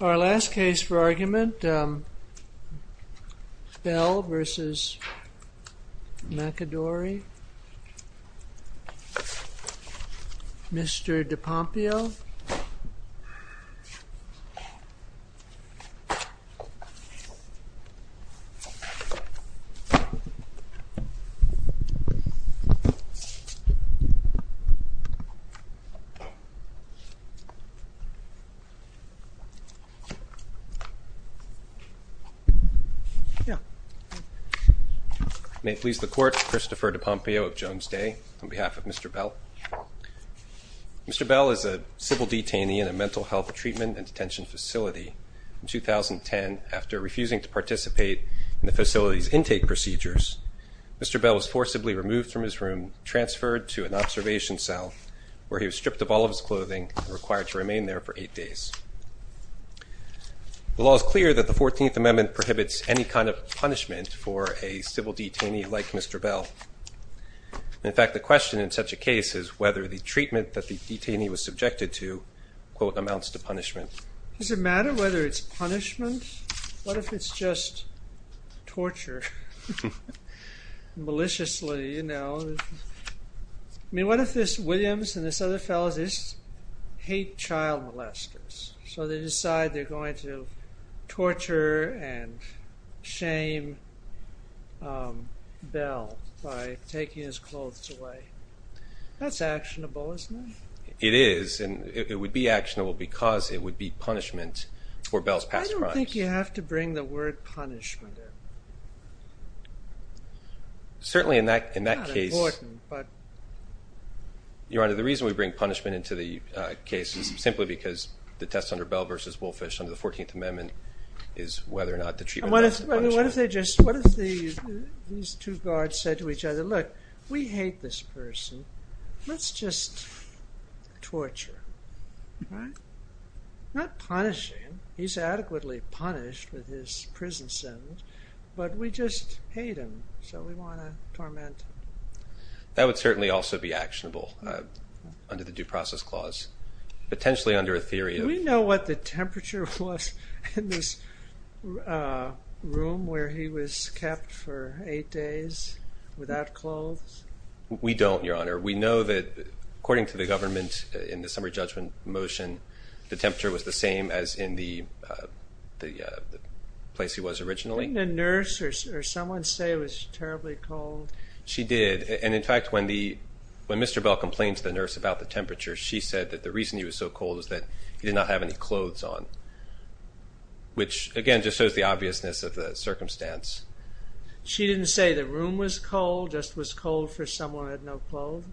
Our last case for argument, Bell v. McAdory Mr. DePompeo May it please the Court, Christopher DePompeo of Jones Day, on behalf of Mr. Bell. Mr. Bell is a civil detainee in a mental health treatment and detention facility. In 2010, after refusing to participate in the facility's intake procedures, Mr. Bell was forcibly removed from his room and transferred to an observation cell, where he was stripped of all of his clothing and required to remain there for eight days. The law is clear that the 14th Amendment prohibits any kind of punishment for a civil detainee like Mr. Bell. In fact, the question in such a case is whether the treatment that the detainee was subjected to, quote, amounts to punishment. Does it matter whether it's punishment? What if it's just torture, maliciously, you know? I mean, what if this Williams and this other fellow just hate child molesters? So, they decide they're going to torture and shame Bell by taking his clothes away. That's actionable, isn't it? It is, and it would be actionable because it would be punishment for Bell's past crimes. I don't think you have to bring the word punishment in. Certainly in that case. It's not important, but... Your Honor, the reason we bring punishment into the case is simply because the test under Bell v. Woolfish under the 14th Amendment is whether or not the treatment amounts to punishment. What if they just, what if these two guards said to each other, look, we hate this person, let's just torture, right? Not punishing, he's adequately punished with his prison sentence, but we just hate him, so we want to torment him. That would certainly also be actionable under the Due Process Clause, potentially under a theory of... The temperature was in this room where he was kept for eight days without clothes? We don't, Your Honor. We know that, according to the government, in the summary judgment motion, the temperature was the same as in the place he was originally. Didn't the nurse or someone say it was terribly cold? She did, and in fact, when Mr. Bell complained to the nurse about the temperature, she said that the reason he was so cold was that he did not have any clothes on, which, again, just shows the obviousness of the circumstance. She didn't say the room was cold, just was cold for someone who had no clothes?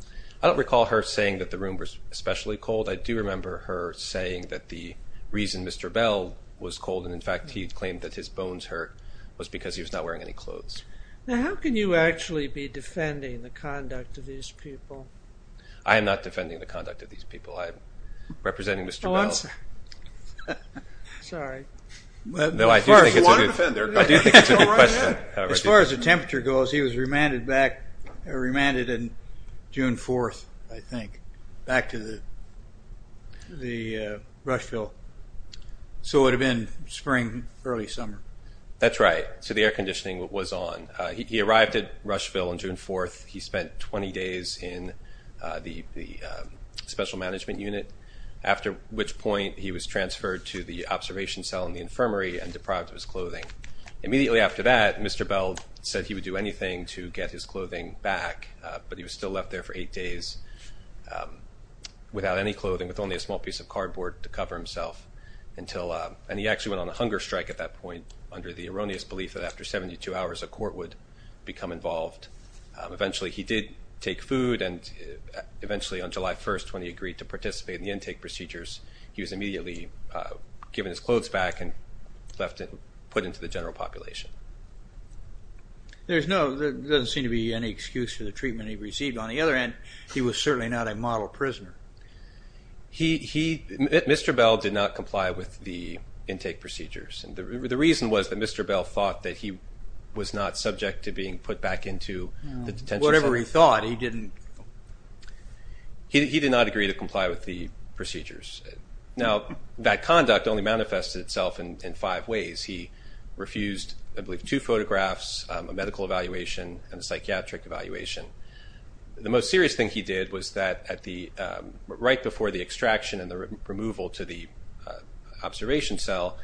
I don't recall her saying that the room was especially cold. I do remember her saying that the reason Mr. Bell was cold, and in fact he claimed that his bones hurt, was because he was not wearing any clothes. Now, how can you actually be defending the conduct of these people? I am not defending the conduct of these people. I'm representing Mr. Bell. Sorry. No, I do think it's a good question. As far as the temperature goes, he was remanded back, remanded on June 4th, I think, back to the Rushville. So it would have been spring, early summer. That's right. So the air conditioning was on. He arrived at Rushville on June 4th. He spent 20 days in the special management unit, after which point he was transferred to the observation cell in the infirmary and deprived of his clothing. Immediately after that, Mr. Bell said he would do anything to get his clothing back, but he was still left there for eight days without any clothing, with only a small piece of cardboard to cover himself, and he actually went on a hunger strike at that point under the erroneous belief that after 72 hours a court would become involved. Eventually he did take food, and eventually on July 1st when he agreed to participate in the intake procedures, he was immediately given his clothes back and put into the general population. There doesn't seem to be any excuse for the treatment he received. On the other hand, he was certainly not a model prisoner. Mr. Bell did not comply with the intake procedures. The reason was that Mr. Bell thought that he was not subject to being put back into the detention center. Whatever he thought. He did not agree to comply with the procedures. Now that conduct only manifested itself in five ways. He refused, I believe, two photographs, a medical evaluation, and a psychiatric evaluation. The most serious thing he did was that right before the extraction and the removal to the observation cell,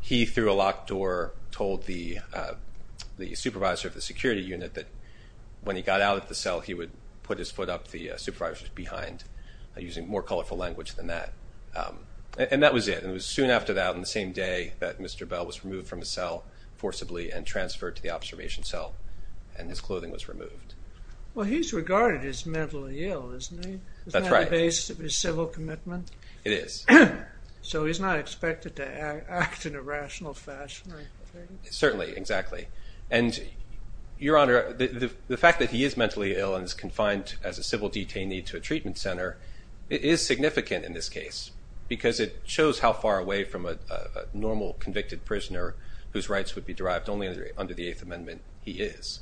he, through a locked door, told the supervisor of the security unit that when he got out of the cell he would put his foot up the supervisor's behind, using more colorful language than that. And that was it. It was soon after that, on the same day, that Mr. Bell was removed from the cell forcibly and transferred to the observation cell, and his clothing was removed. Well, he's regarded as mentally ill, isn't he? Isn't that the basis of his civil commitment? It is. So he's not expected to act in a rational fashion, right? Certainly, exactly. And, Your Honor, the fact that he is mentally ill and is confined as a civil detainee to a treatment center is significant in this case because it shows how far away from a normal convicted prisoner whose rights would be derived only under the Eighth Amendment he is.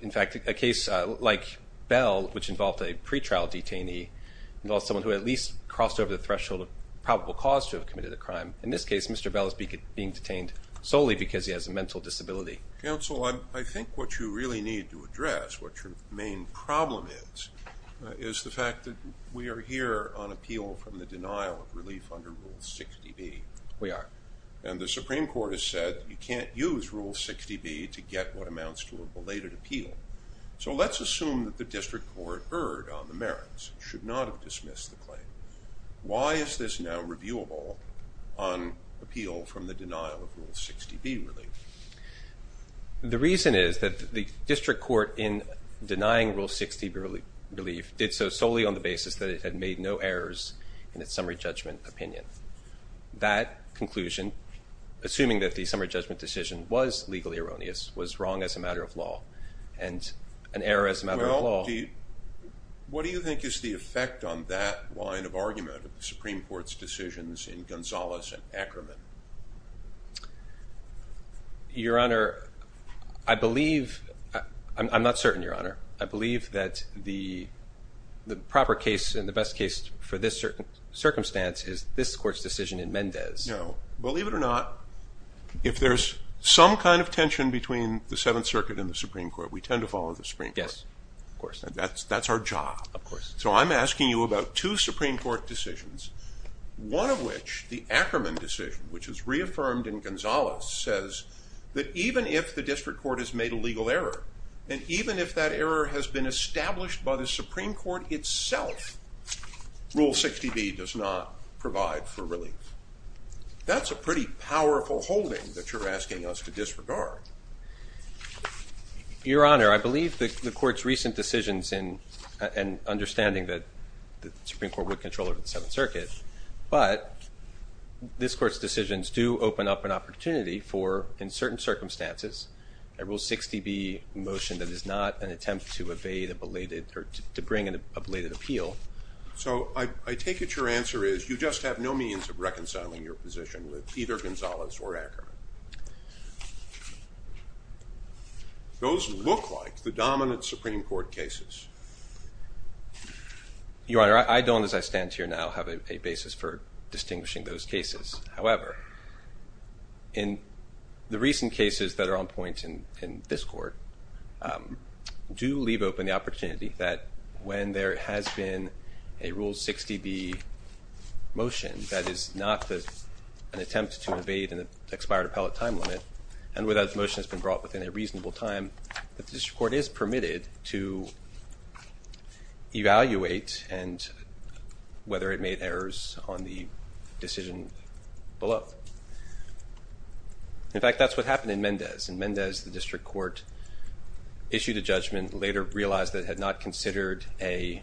In fact, a case like Bell, which involved a pretrial detainee, involves someone who at least crossed over the threshold of probable cause to have committed a crime. In this case, Mr. Bell is being detained solely because he has a mental disability. Counsel, I think what you really need to address, what your main problem is, is the fact that we are here on appeal from the denial of relief under Rule 60B. We are. And the Supreme Court has said you can't use Rule 60B to get what amounts to a belated appeal. So let's assume that the district court erred on the merits and should not have dismissed the claim. Why is this now reviewable on appeal from the denial of Rule 60B relief? The reason is that the district court, in denying Rule 60B relief, did so solely on the basis that it had made no errors in its summary judgment opinion. That conclusion, assuming that the summary judgment decision was legally erroneous, was wrong as a matter of law and an error as a matter of law. Well, what do you think is the effect on that line of argument of the Supreme Court's decisions in Gonzales and Ackerman? Your Honor, I believe, I'm not certain, Your Honor. I believe that the proper case and the best case for this circumstance is this Court's decision in Mendez. No. Believe it or not, if there's some kind of tension between the Seventh Circuit and the Supreme Court, we tend to follow the Supreme Court. Yes, of course. That's our job. Of course. So I'm asking you about two Supreme Court decisions, one of which, the Ackerman decision, which was reaffirmed in Gonzales, says that even if the district court has made a legal error, and even if that error has been established by the Supreme Court itself, Rule 60B does not provide for relief. That's a pretty powerful holding that you're asking us to disregard. Your Honor, I believe the Court's recent decisions and understanding that the Supreme Court would control the Seventh Circuit, but this Court's decisions do open up an opportunity for, in certain circumstances, a Rule 60B motion that is not an attempt to evade a belated or to bring an ablated appeal. So I take it your answer is you just have no means of reconciling your position with either Gonzales or Ackerman. Those look like the dominant Supreme Court cases. Your Honor, I don't, as I stand here now, have a basis for distinguishing those cases. However, in the recent cases that are on point in this Court, do leave open the opportunity that when there has been a Rule 60B motion that is not an attempt to evade an expired appellate time limit, and where that motion has been brought within a reasonable time, that this Court is permitted to evaluate whether it made errors on the decision below. In fact, that's what happened in Mendez. In Mendez, the District Court issued a judgment, later realized that it had not considered a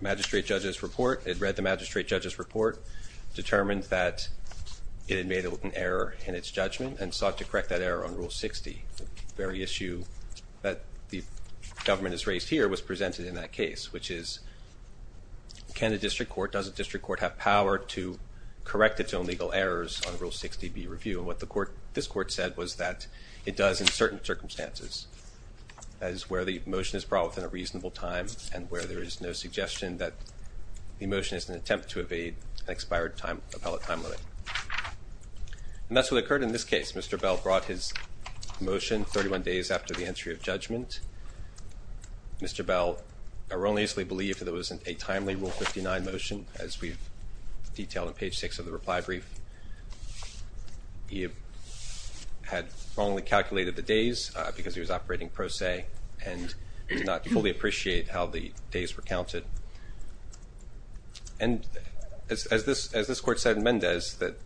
magistrate judge's report. It read the magistrate judge's report, determined that it had made an error in its judgment, and sought to correct that error on Rule 60. The very issue that the government has raised here was presented in that case, which is can a District Court, does a District Court have power to correct its own legal errors on Rule 60B review? And what this Court said was that it does in certain circumstances, as where the motion is brought within a reasonable time and where there is no suggestion that the motion is an attempt to evade an expired appellate time limit. And that's what occurred in this case. Mr. Bell brought his motion 31 days after the entry of judgment. Mr. Bell erroneously believed that it was a timely Rule 59 motion, as we've detailed on page 6 of the reply brief. He had wrongly calculated the days because he was operating pro se and did not fully appreciate how the days were counted. And as this Court said in Mendez, that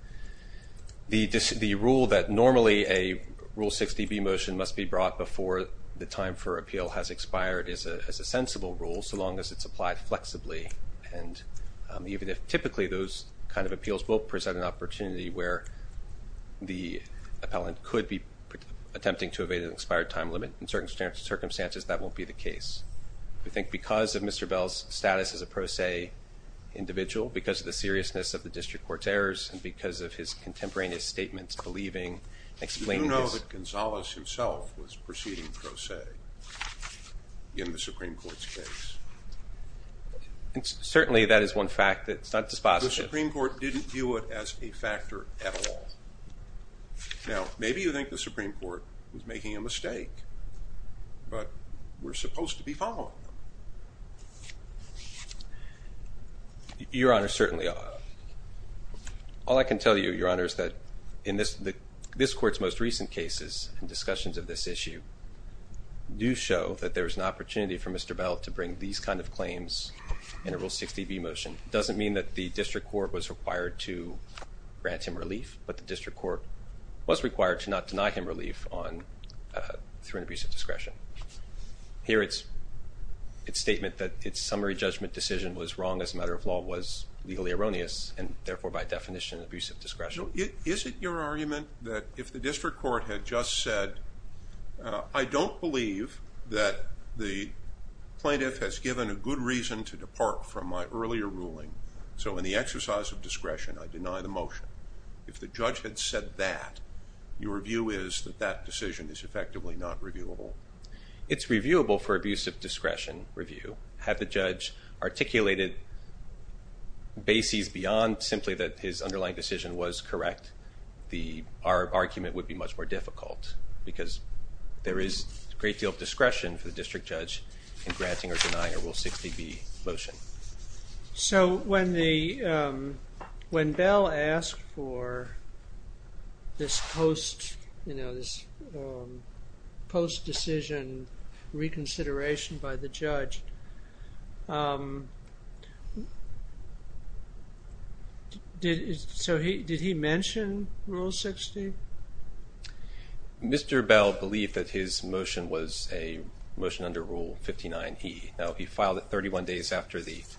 the rule that normally a Rule 60B motion must be brought before the time for appeal has expired is a sensible rule, so long as it's applied flexibly. And even if typically those kind of appeals will present an opportunity where the appellant could be attempting to evade an expired time limit, in certain circumstances that won't be the case. We think because of Mr. Bell's status as a pro se individual, because of the seriousness of the District Court's errors, and because of his contemporaneous statements believing and explaining his... You do know that Gonzales himself was proceeding pro se in the Supreme Court's case? Certainly that is one fact that's not dispositive. The Supreme Court didn't view it as a factor at all. Now, maybe you think the Supreme Court was making a mistake, but we're supposed to be following them. Your Honor, certainly. All I can tell you, Your Honor, is that in this Court's most recent cases and discussions of this issue, do show that there's an opportunity for Mr. Bell to bring these kind of claims in a Rule 60B motion. It doesn't mean that the District Court was required to grant him relief, but the District Court was required to not deny him relief through an abuse of discretion. Here its statement that its summary judgment decision was wrong as a matter of law was legally erroneous, and therefore by definition an abuse of discretion. Is it your argument that if the District Court had just said, I don't believe that the plaintiff has given a good reason to depart from my earlier ruling, so in the exercise of discretion I deny the motion. If the judge had said that, your view is that that decision is effectively not reviewable? It's reviewable for abuse of discretion review. Had the judge articulated bases beyond simply that his underlying decision was correct, our argument would be much more difficult, because there is a great deal of discretion for the district judge in granting or denying a Rule 60B motion. So when Bell asked for this post-decision reconsideration by the judge, did he mention Rule 60? Mr. Bell believed that his motion was a motion under Rule 59E. Now, he filed it 31 days after the judgment.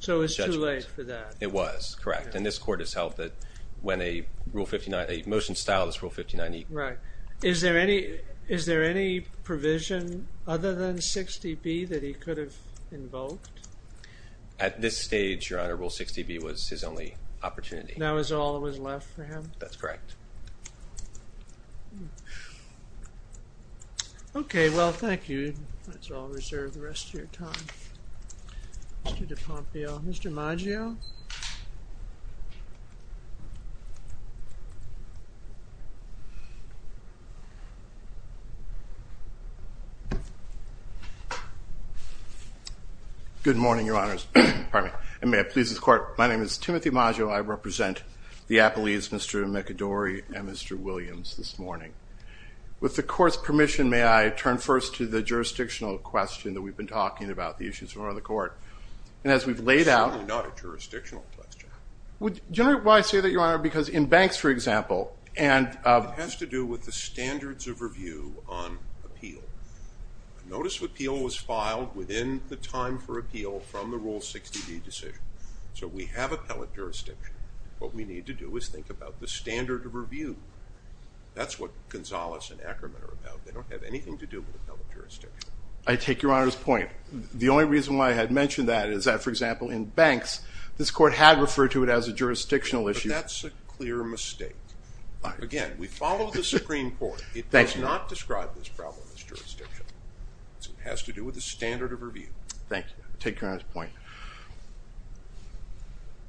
So it was too late for that? It was, correct. And this Court has held that when a Rule 59, a motion styled as Rule 59E. Right. Is there any provision other than 60B that he could have invoked? At this stage, Your Honor, Rule 60B was his only opportunity. That was all that was left for him? That's correct. Okay. Well, thank you. Let's all reserve the rest of your time. Mr. DiPompio. Mr. Maggio. Good morning, Your Honors. Pardon me. And may it please the Court, my name is Timothy Maggio. I represent the Appellees, Mr. McAdory and Mr. Williams, this morning. With the Court's permission, may I turn first to the jurisdictional question that we've been talking about, the issues in front of the Court? Certainly not a jurisdictional question. Do you know why I say that, Your Honor? Because in banks, for example, and— It has to do with the standards of review on appeal. Notice of appeal was filed within the time for appeal from the Rule 60B decision. So we have appellate jurisdiction. What we need to do is think about the standard of review. That's what Gonzales and Ackerman are about. They don't have anything to do with appellate jurisdiction. I take Your Honor's point. The only reason why I had mentioned that is that, for example, in banks, this Court had referred to it as a jurisdictional issue. But that's a clear mistake. Again, we follow the Supreme Court. It does not describe this problem as jurisdictional. It has to do with the standard of review. Thank you. I take Your Honor's point.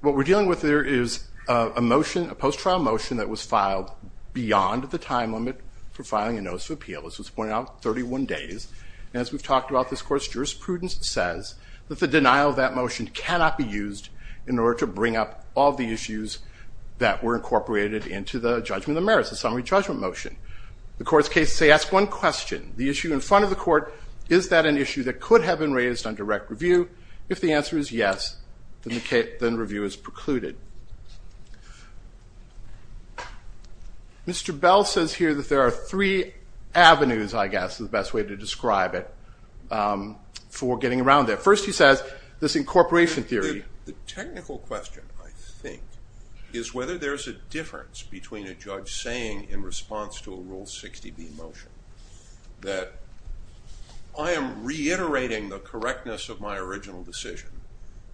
What we're dealing with here is a motion, a post-trial motion, that was filed beyond the time limit for filing a notice of appeal. This was pointed out 31 days. And as we've talked about, this Court's jurisprudence says that the denial of that motion cannot be used in order to bring up all the issues that were incorporated into the judgment of merits, the summary judgment motion. The Court's cases say, ask one question. The issue in front of the Court, is that an issue that could have been raised on direct review? If the answer is yes, then review is precluded. Mr. Bell says here that there are three avenues, I guess, is the best way to describe it for getting around there. First, he says this incorporation theory. The technical question, I think, is whether there's a difference between a judge saying, in response to a Rule 60b motion, that I am reiterating the correctness of my original decision,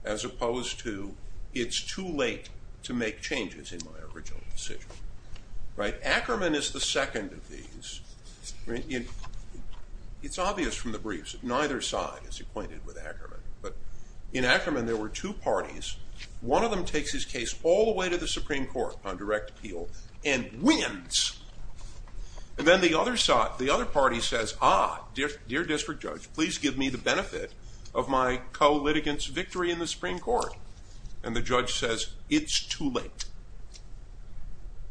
as opposed to it's too late to make changes in my original decision. Ackerman is the second of these. It's obvious from the briefs that neither side is acquainted with Ackerman. But in Ackerman, there were two parties. One of them takes his case all the way to the Supreme Court on direct appeal and wins. And then the other party says, ah, dear District Judge, please give me the benefit of my co-litigant's victory in the Supreme Court. And the judge says, it's too late.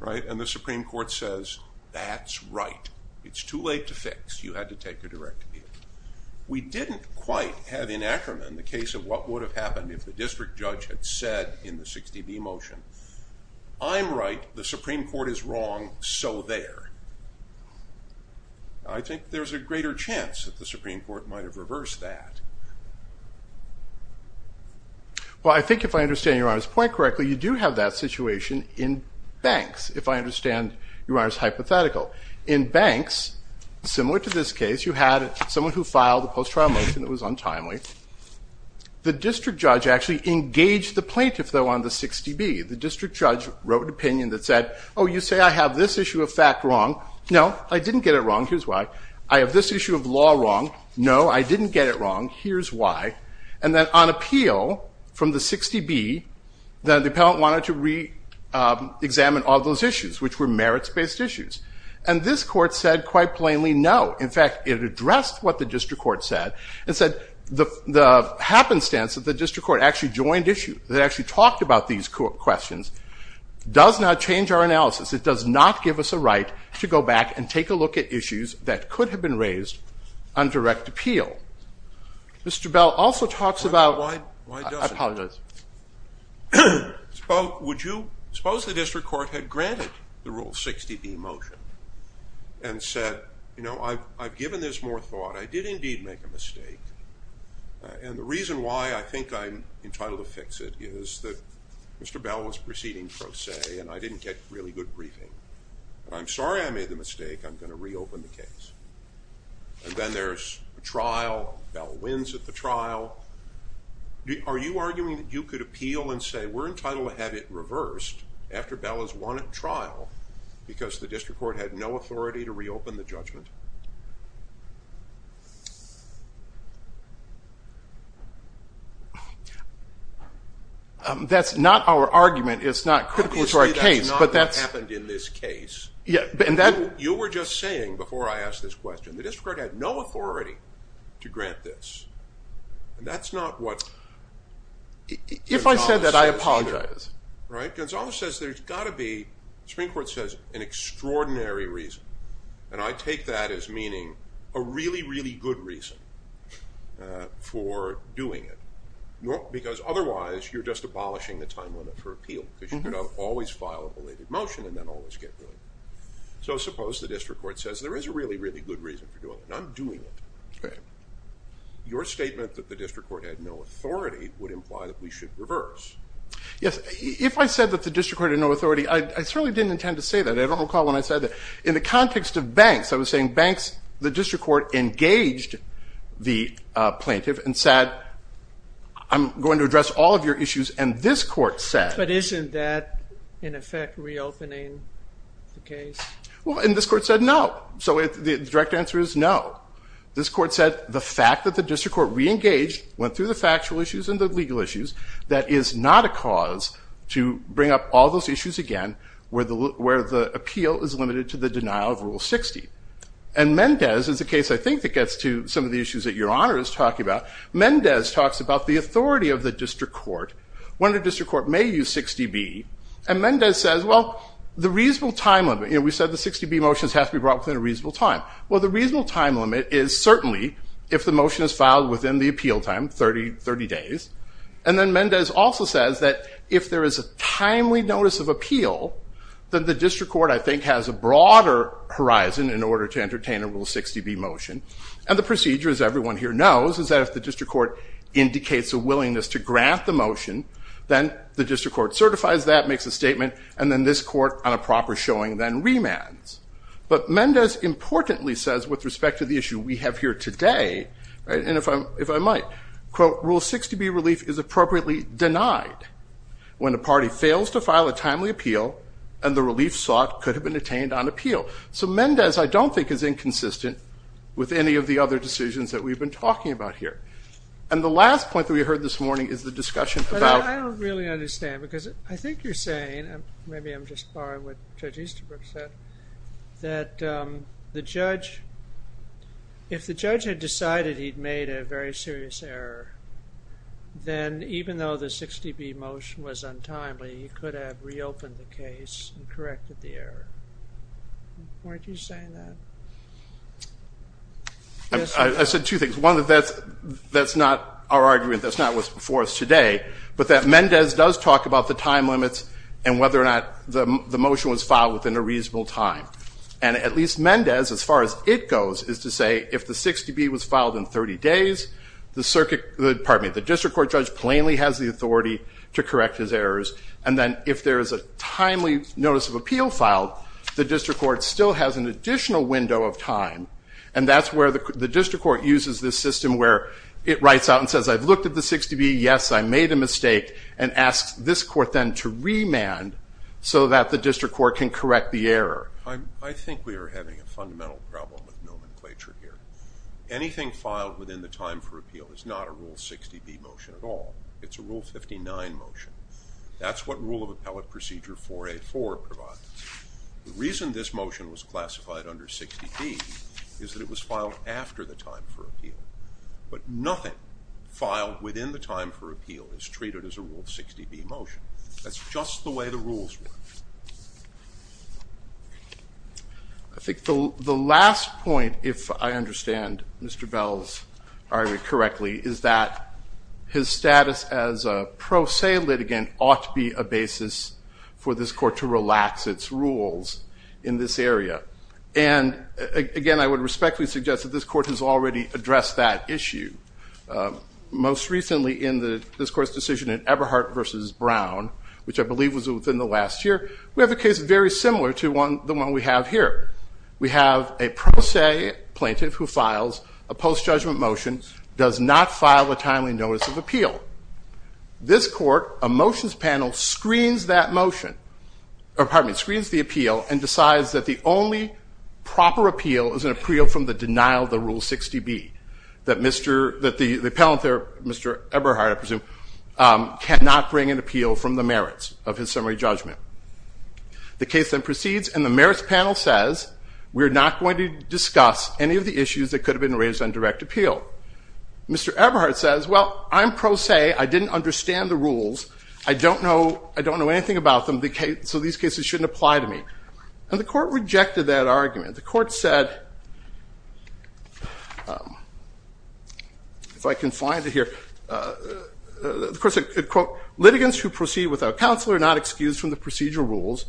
And the Supreme Court says, that's right. It's too late to fix. You had to take a direct appeal. We didn't quite have, in Ackerman, the case of what would have happened if the District Judge had said in the 60b motion, I'm right, the Supreme Court is wrong, so there. I think there's a greater chance that the Supreme Court might have reversed that. Well, I think if I understand Your Honor's point correctly, you do have that situation in Banks, if I understand Your Honor's hypothetical. In Banks, similar to this case, you had someone who filed the post-trial motion. It was untimely. The District Judge actually engaged the plaintiff, though, on the 60b. The District Judge wrote an opinion that said, oh, you say I have this issue of fact wrong. No, I didn't get it wrong. Here's why. I have this issue of law wrong. No, I didn't get it wrong. Here's why. And then on appeal from the 60b, the appellant wanted to re-examine all those issues, which were merits-based issues. And this court said quite plainly, no. In fact, it addressed what the District Court said and said the happenstance that the District Court that actually talked about these questions does not change our analysis. It does not give us a right to go back and take a look at issues that could have been raised on direct appeal. Mr. Bell also talks about... Why doesn't it? I apologize. Suppose the District Court had granted the Rule 60b motion I did indeed make a mistake. And the reason why I think I'm entitled to fix it is that Mr. Bell was proceeding pro se and I didn't get really good briefing. I'm sorry I made the mistake. I'm going to reopen the case. And then there's a trial. Bell wins at the trial. Are you arguing that you could appeal and say we're entitled to have it reversed after Bell has won at trial because the District Court had no authority to reopen the judgment? That's not our argument. It's not critical to our case. Obviously that's not what happened in this case. You were just saying before I asked this question, the District Court had no authority to grant this. That's not what... If I said that, I apologize. Right? Gonzales says there's got to be, the Supreme Court says, an extraordinary reason. And I take that as meaning a really, really good reason. For doing it. Because otherwise, you're just abolishing the time limit for appeal. You should always file a belated motion and then always get rid of it. So suppose the District Court says there is a really, really good reason for doing it. I'm doing it. Your statement that the District Court had no authority would imply that we should reverse. Yes, if I said that the District Court had no authority, I certainly didn't intend to say that. I don't recall when I said that. In the context of banks, I was saying banks, the District Court engaged the plaintiff and said, I'm going to address all of your issues. And this court said... But isn't that, in effect, reopening the case? Well, and this court said no. So the direct answer is no. This court said the fact that the District Court reengaged, went through the factual issues and the legal issues, that is not a cause to bring up all those issues again where the appeal is limited to the denial of Rule 60. And Mendez is a case, I think, that gets to some of the issues that Your Honor is talking about. Mendez talks about the authority of the District Court, when the District Court may use 60B. And Mendez says, well, the reasonable time limit... You know, we said the 60B motions have to be brought within a reasonable time. Well, the reasonable time limit is certainly if the motion is filed within the appeal time, 30 days. And then Mendez also says that if there is a timely notice of appeal, then the District Court, I think, has a broader horizon in order to entertain a Rule 60B motion. And the procedure, as everyone here knows, is that if the District Court indicates a willingness to grant the motion, then the District Court certifies that, makes a statement, and then this court, on a proper showing, then remands. But Mendez importantly says, with respect to the issue we have here today, and if I might, quote, Rule 60B relief is appropriately denied when a party fails to file a timely appeal and the relief sought could have been attained on appeal. So Mendez, I don't think, is inconsistent with any of the other decisions that we've been talking about here. And the last point that we heard this morning is the discussion about... But I don't really understand, because I think you're saying, maybe I'm just borrowing what Judge Easterbrook said, that the judge... If the judge had decided he'd made a very serious error, then even though the 60B motion was untimely, he could have reopened the case and corrected the error. Why do you say that? I said two things. One, that's not our argument. That's not what's before us today. But that Mendez does talk about the time limits and whether or not the motion was filed within a reasonable time. And at least Mendez, as far as it goes, is to say if the 60B was filed in 30 days, the district court judge plainly has the authority to correct his errors. And then if there is a timely notice of appeal filed, the district court still has an additional window of time. And that's where the district court uses this system where it writes out and says, I've looked at the 60B, yes, I made a mistake, and asks this court then to remand so that the district court can correct the error. I think we are having a fundamental problem with nomenclature here. Anything filed within the time for appeal is not a Rule 60B motion at all. It's a Rule 59 motion. That's what Rule of Appellate Procedure 4A.4 provides. The reason this motion was classified under 60B is that it was filed after the time for appeal. But nothing filed within the time for appeal is treated as a Rule 60B motion. That's just the way the rules work. I think the last point, if I understand Mr. Bell's argument correctly, is that his status as a pro se litigant ought to be a basis for this court to relax its rules in this area. And again, I would respectfully suggest that this court has already addressed that issue. Most recently in this court's decision in Eberhardt versus Brown, which I believe was within the last year, we have a case very similar to the one we have here. We have a pro se plaintiff who files a post-judgment motion, does not file a timely notice of appeal. This court, a motions panel, screens the appeal and decides that the only proper appeal is an appeal from the denial of the Rule 60B, cannot bring an appeal from the merits of his summary judgment. The case then proceeds, and the merits panel says, we are not going to discuss any of the issues that could have been raised on direct appeal. Mr. Eberhardt says, well, I'm pro se. I didn't understand the rules. I don't know anything about them, so these cases shouldn't apply to me. And the court rejected that argument. The court said, if I can find it here, the court said, quote, litigants who proceed without counsel are not excused from the procedural rules,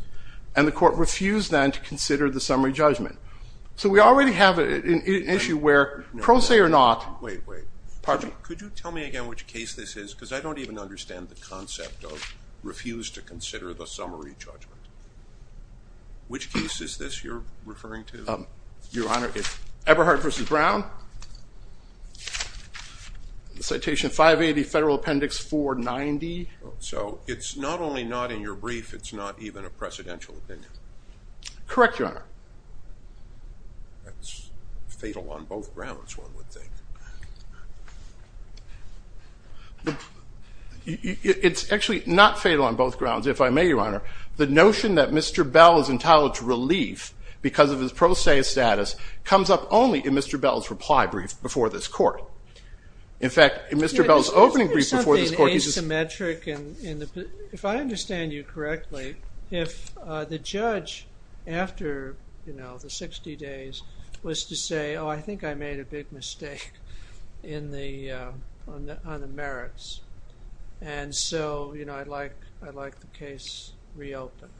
and the court refused then to consider the summary judgment. So we already have an issue where pro se or not. Wait, wait. Could you tell me again which case this is? Because I don't even understand the concept of refuse to consider the summary judgment. Which case is this you're referring to? Your Honor, it's Eberhardt versus Brown. Citation 580, Federal Appendix 490. So it's not only not in your brief, it's not even a precedential opinion. Correct, Your Honor. That's fatal on both grounds, one would think. Your Honor, the notion that Mr. Bell is entitled to relief because of his pro se status comes up only in Mr. Bell's reply brief before this court. In fact, in Mr. Bell's opening brief before this court, he's just- Isn't there something asymmetric? If I understand you correctly, if the judge, after the 60 days, was to say, oh, I think I made a big mistake on the merits, and so I'd like the case reopened.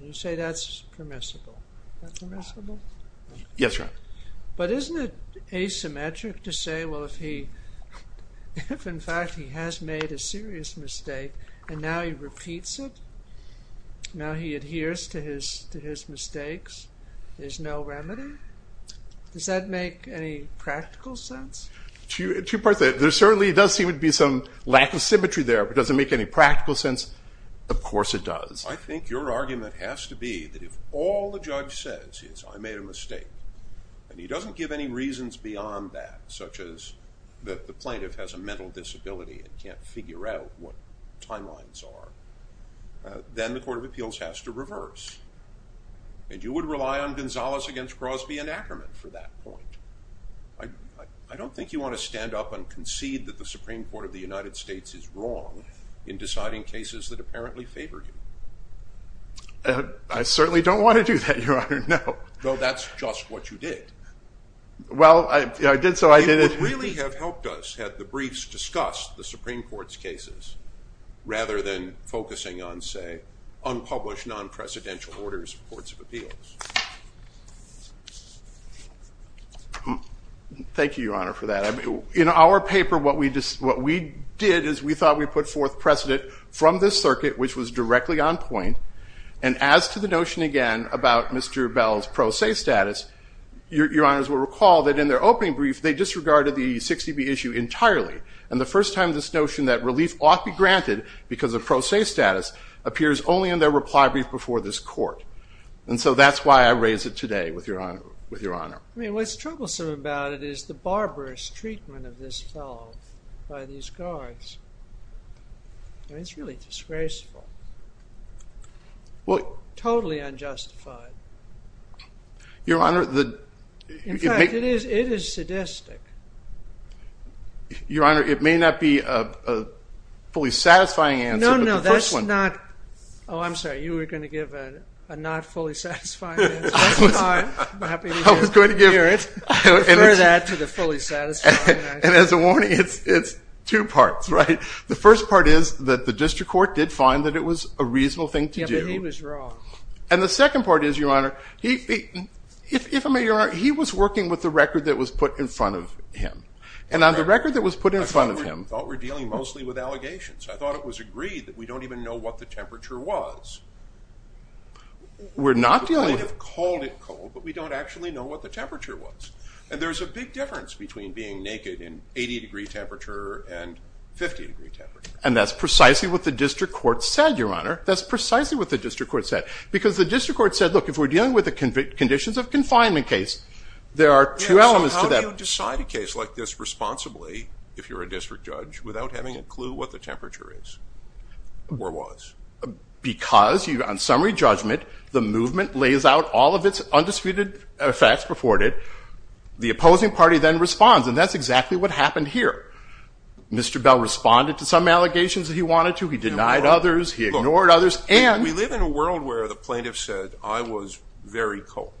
You say that's permissible. Is that permissible? Yes, Your Honor. But isn't it asymmetric to say, well, if in fact he has made a serious mistake and now he repeats it, now he adheres to his mistakes, there's no remedy? Does that make any practical sense? Two parts to that. There certainly does seem to be some lack of symmetry there. But does it make any practical sense? Of course it does. I think your argument has to be that if all the judge says is I made a mistake, and he doesn't give any reasons beyond that, such as the plaintiff has a mental disability and can't figure out what timelines are, then the Court of Appeals has to reverse. And you would rely on Gonzalez against Crosby and Ackerman for that point. I don't think you want to stand up and concede that the Supreme Court of the United States is wrong in deciding cases that apparently favor him. I certainly don't want to do that, Your Honor. No. Well, that's just what you did. Well, I did so I did it. It would really have helped us had the briefs discussed the Supreme Court's cases rather than focusing on, say, unpublished non-presidential orders of the Courts of Appeals. Thank you, Your Honor, for that. In our paper, what we did is we thought we put forth precedent from this circuit, which was directly on point. And as to the notion again about Mr. Bell's pro se status, Your Honors will recall that in their opening brief, they disregarded the 60B issue entirely. And the first time this notion that relief ought to be granted because of pro se status appears only in their reply brief before this court. And so that's why I raise it today with Your Honor. I mean, what's troublesome about it is the barbarous treatment of this fellow by these guards. I mean, it's really disgraceful, totally unjustified. Your Honor, the In fact, it is sadistic. Your Honor, it may not be a fully satisfying answer, but the first one No, no, that's not. Oh, I'm sorry. You were going to give a not fully satisfying answer. That's fine. I'm happy to hear it. I was going to give it. Refer that to the fully satisfying answer. And as a warning, it's two parts, right? The first part is that the district court did find that it was a reasonable thing to do. Yeah, but he was wrong. And the second part is, Your Honor, if I may, Your Honor, he was working with the record that was put in front of him. And on the record that was put in front of him I thought we were dealing mostly with allegations. I thought it was agreed that we don't even know what the temperature was. We're not dealing with it. We would have called it cold, but we don't actually know what the temperature was. And there's a big difference between being naked in 80 degree temperature and 50 degree temperature. And that's precisely what the district court said, Your Honor. That's precisely what the district court said. Because the district court said, look, if we're dealing with the conditions of confinement case, there are two elements to that. So how do you decide a case like this responsibly, if you're a district judge, without having a clue what the temperature is or was? Because on summary judgment, the movement lays out all of its undisputed facts before it. The opposing party then responds. And that's exactly what happened here. Mr. Bell responded to some allegations that he wanted to. He denied others. He ignored others. And we live in a world where the plaintiff said, I was very cold.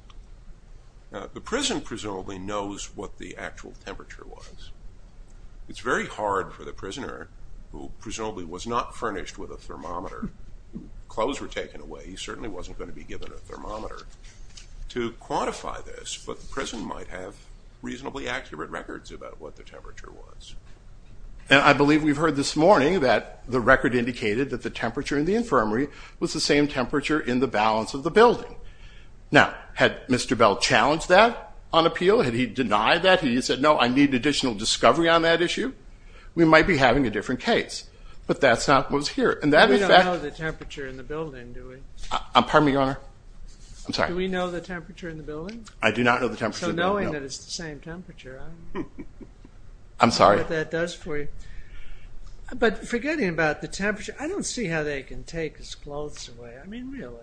The prison presumably knows what the actual temperature was. It's very hard for the prisoner, who presumably was not furnished with a thermometer. Clothes were taken away. He certainly wasn't going to be given a thermometer to quantify this. But the prison might have reasonably accurate records about what the temperature was. And I believe we've heard this morning that the record indicated that the temperature in the infirmary was the same temperature in the balance of the building. Now, had Mr. Bell challenged that on appeal? Had he denied that? Had he said, no, I need additional discovery on that issue? We might be having a different case. But that's not what was here. We don't know the temperature in the building, do we? Pardon me, Your Honor. I'm sorry. Do we know the temperature in the building? I do not know the temperature in the building, no. So knowing that it's the same temperature, I don't know. I'm sorry. I don't know what that does for you. But forgetting about the temperature, I don't see how they can take his clothes away. I mean, really.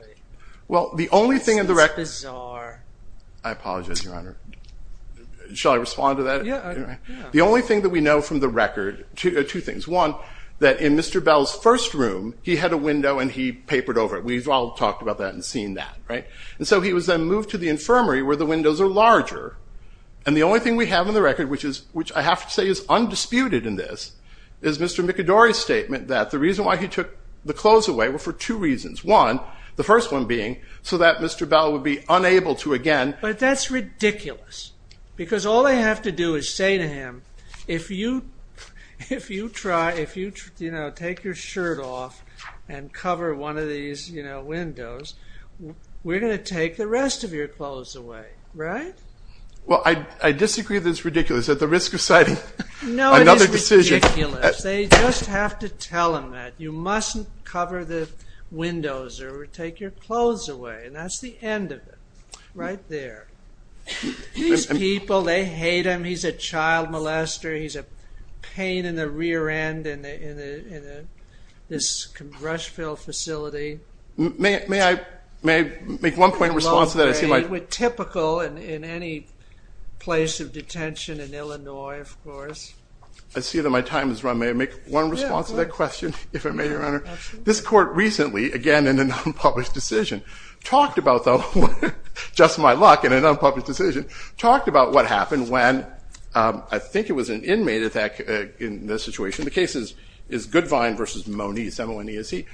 Well, the only thing in the record. This is bizarre. I apologize, Your Honor. Shall I respond to that? Yeah. The only thing that we know from the record are two things. One, that in Mr. Bell's first room, he had a window and he papered over it. We've all talked about that and seen that, right? And so he was then moved to the infirmary where the windows are larger. And the only thing we have on the record, which I have to say is undisputed in this, is Mr. McAdory's statement that the reason why he took the clothes away were for two reasons. One, the first one being so that Mr. Bell would be unable to again. But that's ridiculous. Because all they have to do is say to him, if you take your shirt off and cover one of these windows, we're going to take the rest of your clothes away. Right? Well, I disagree that it's ridiculous. At the risk of citing another decision. No, it is ridiculous. They just have to tell him that. You mustn't cover the windows or take your clothes away. And that's the end of it. Right there. These people, they hate him. He's a child molester. He's a pain in the rear end in this Rushville facility. May I make one point in response to that? Typical in any place of detention in Illinois, of course. I see that my time has run. May I make one response to that question, if I may, Your Honor? Absolutely. This court recently, again in an unpublished decision, talked about, though, just my luck in an unpublished decision, talked about what happened when I think it was an inmate in this situation. The case is Goodvine v. Moniz, M-O-N-E-S-E.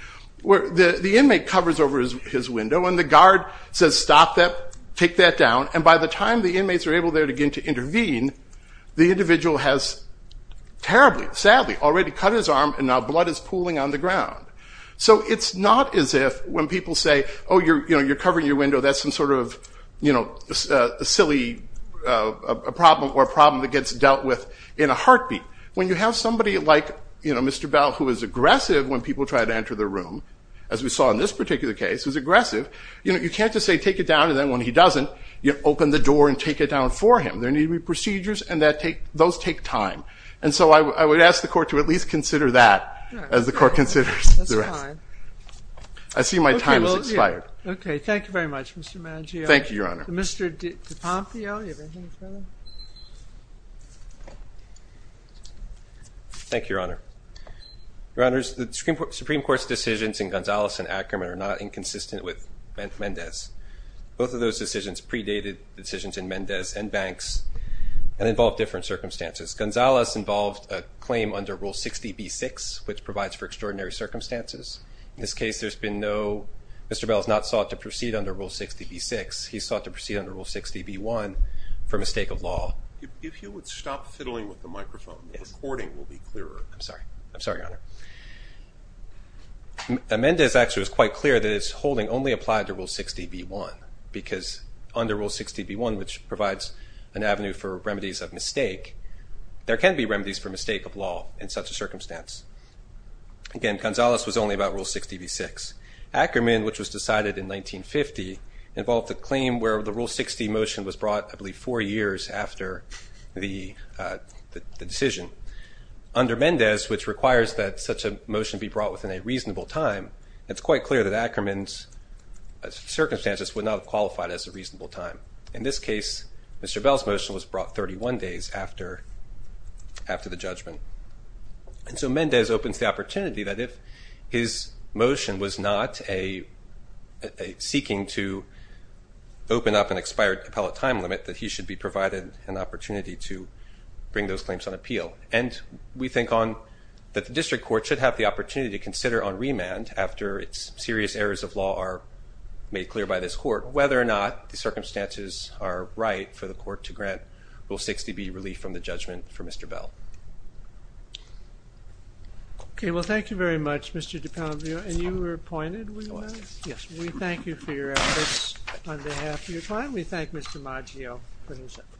The inmate covers over his window and the guard says, stop that, take that down. And by the time the inmates are able there again to intervene, the individual has terribly, sadly, already cut his arm and now blood is pooling on the ground. So it's not as if when people say, oh, you're covering your window, that's some sort of silly problem or a problem that gets dealt with in a heartbeat. When you have somebody like Mr. Bell, who is aggressive when people try to enter the room, as we saw in this particular case, who's aggressive, you can't just say, take it down, and then when he doesn't, open the door and take it down for him. There need to be procedures, and those take time. And so I would ask the court to at least consider that, as the court considers the rest. I see my time has expired. Okay, thank you very much, Mr. Mangio. Thank you, Your Honor. Mr. DiPompio, do you have anything further? Thank you, Your Honor. Your Honors, the Supreme Court's decisions in Gonzalez and Ackerman are not inconsistent with Mendez. Both of those decisions predated decisions in Mendez and Banks and involved different circumstances. Gonzalez involved a claim under Rule 60b-6, which provides for extraordinary circumstances. In this case, Mr. Bell has not sought to proceed under Rule 60b-6. He sought to proceed under Rule 60b-1 for mistake of law. If you would stop fiddling with the microphone, the recording will be clearer. I'm sorry. I'm sorry, Your Honor. Mendez actually was quite clear that his holding only applied to Rule 60b-1 because under Rule 60b-1, which provides an avenue for remedies of mistake, there can be remedies for mistake of law in such a circumstance. Again, Gonzalez was only about Rule 60b-6. Ackerman, which was decided in 1950, involved a claim where the Rule 60 motion was brought, I believe, four years after the decision. Under Mendez, which requires that such a motion be brought within a reasonable time, it's quite clear that Ackerman's circumstances would not have qualified as a reasonable time. In this case, Mr. Bell's motion was brought 31 days after the judgment. And so Mendez opens the opportunity that if his motion was not seeking to open up an expired appellate time limit, that he should be provided an opportunity to bring those claims on appeal. And we think that the district court should have the opportunity to consider on remand, after serious errors of law are made clear by this court, whether or not the circumstances are right for the court to grant Rule 60b relief from the judgment for Mr. Bell. Okay. Well, thank you very much, Mr. DiPanvio. And you were appointed, were you not? Yes. We thank you for your efforts on behalf of your client. We thank Mr. Maggio for his efforts.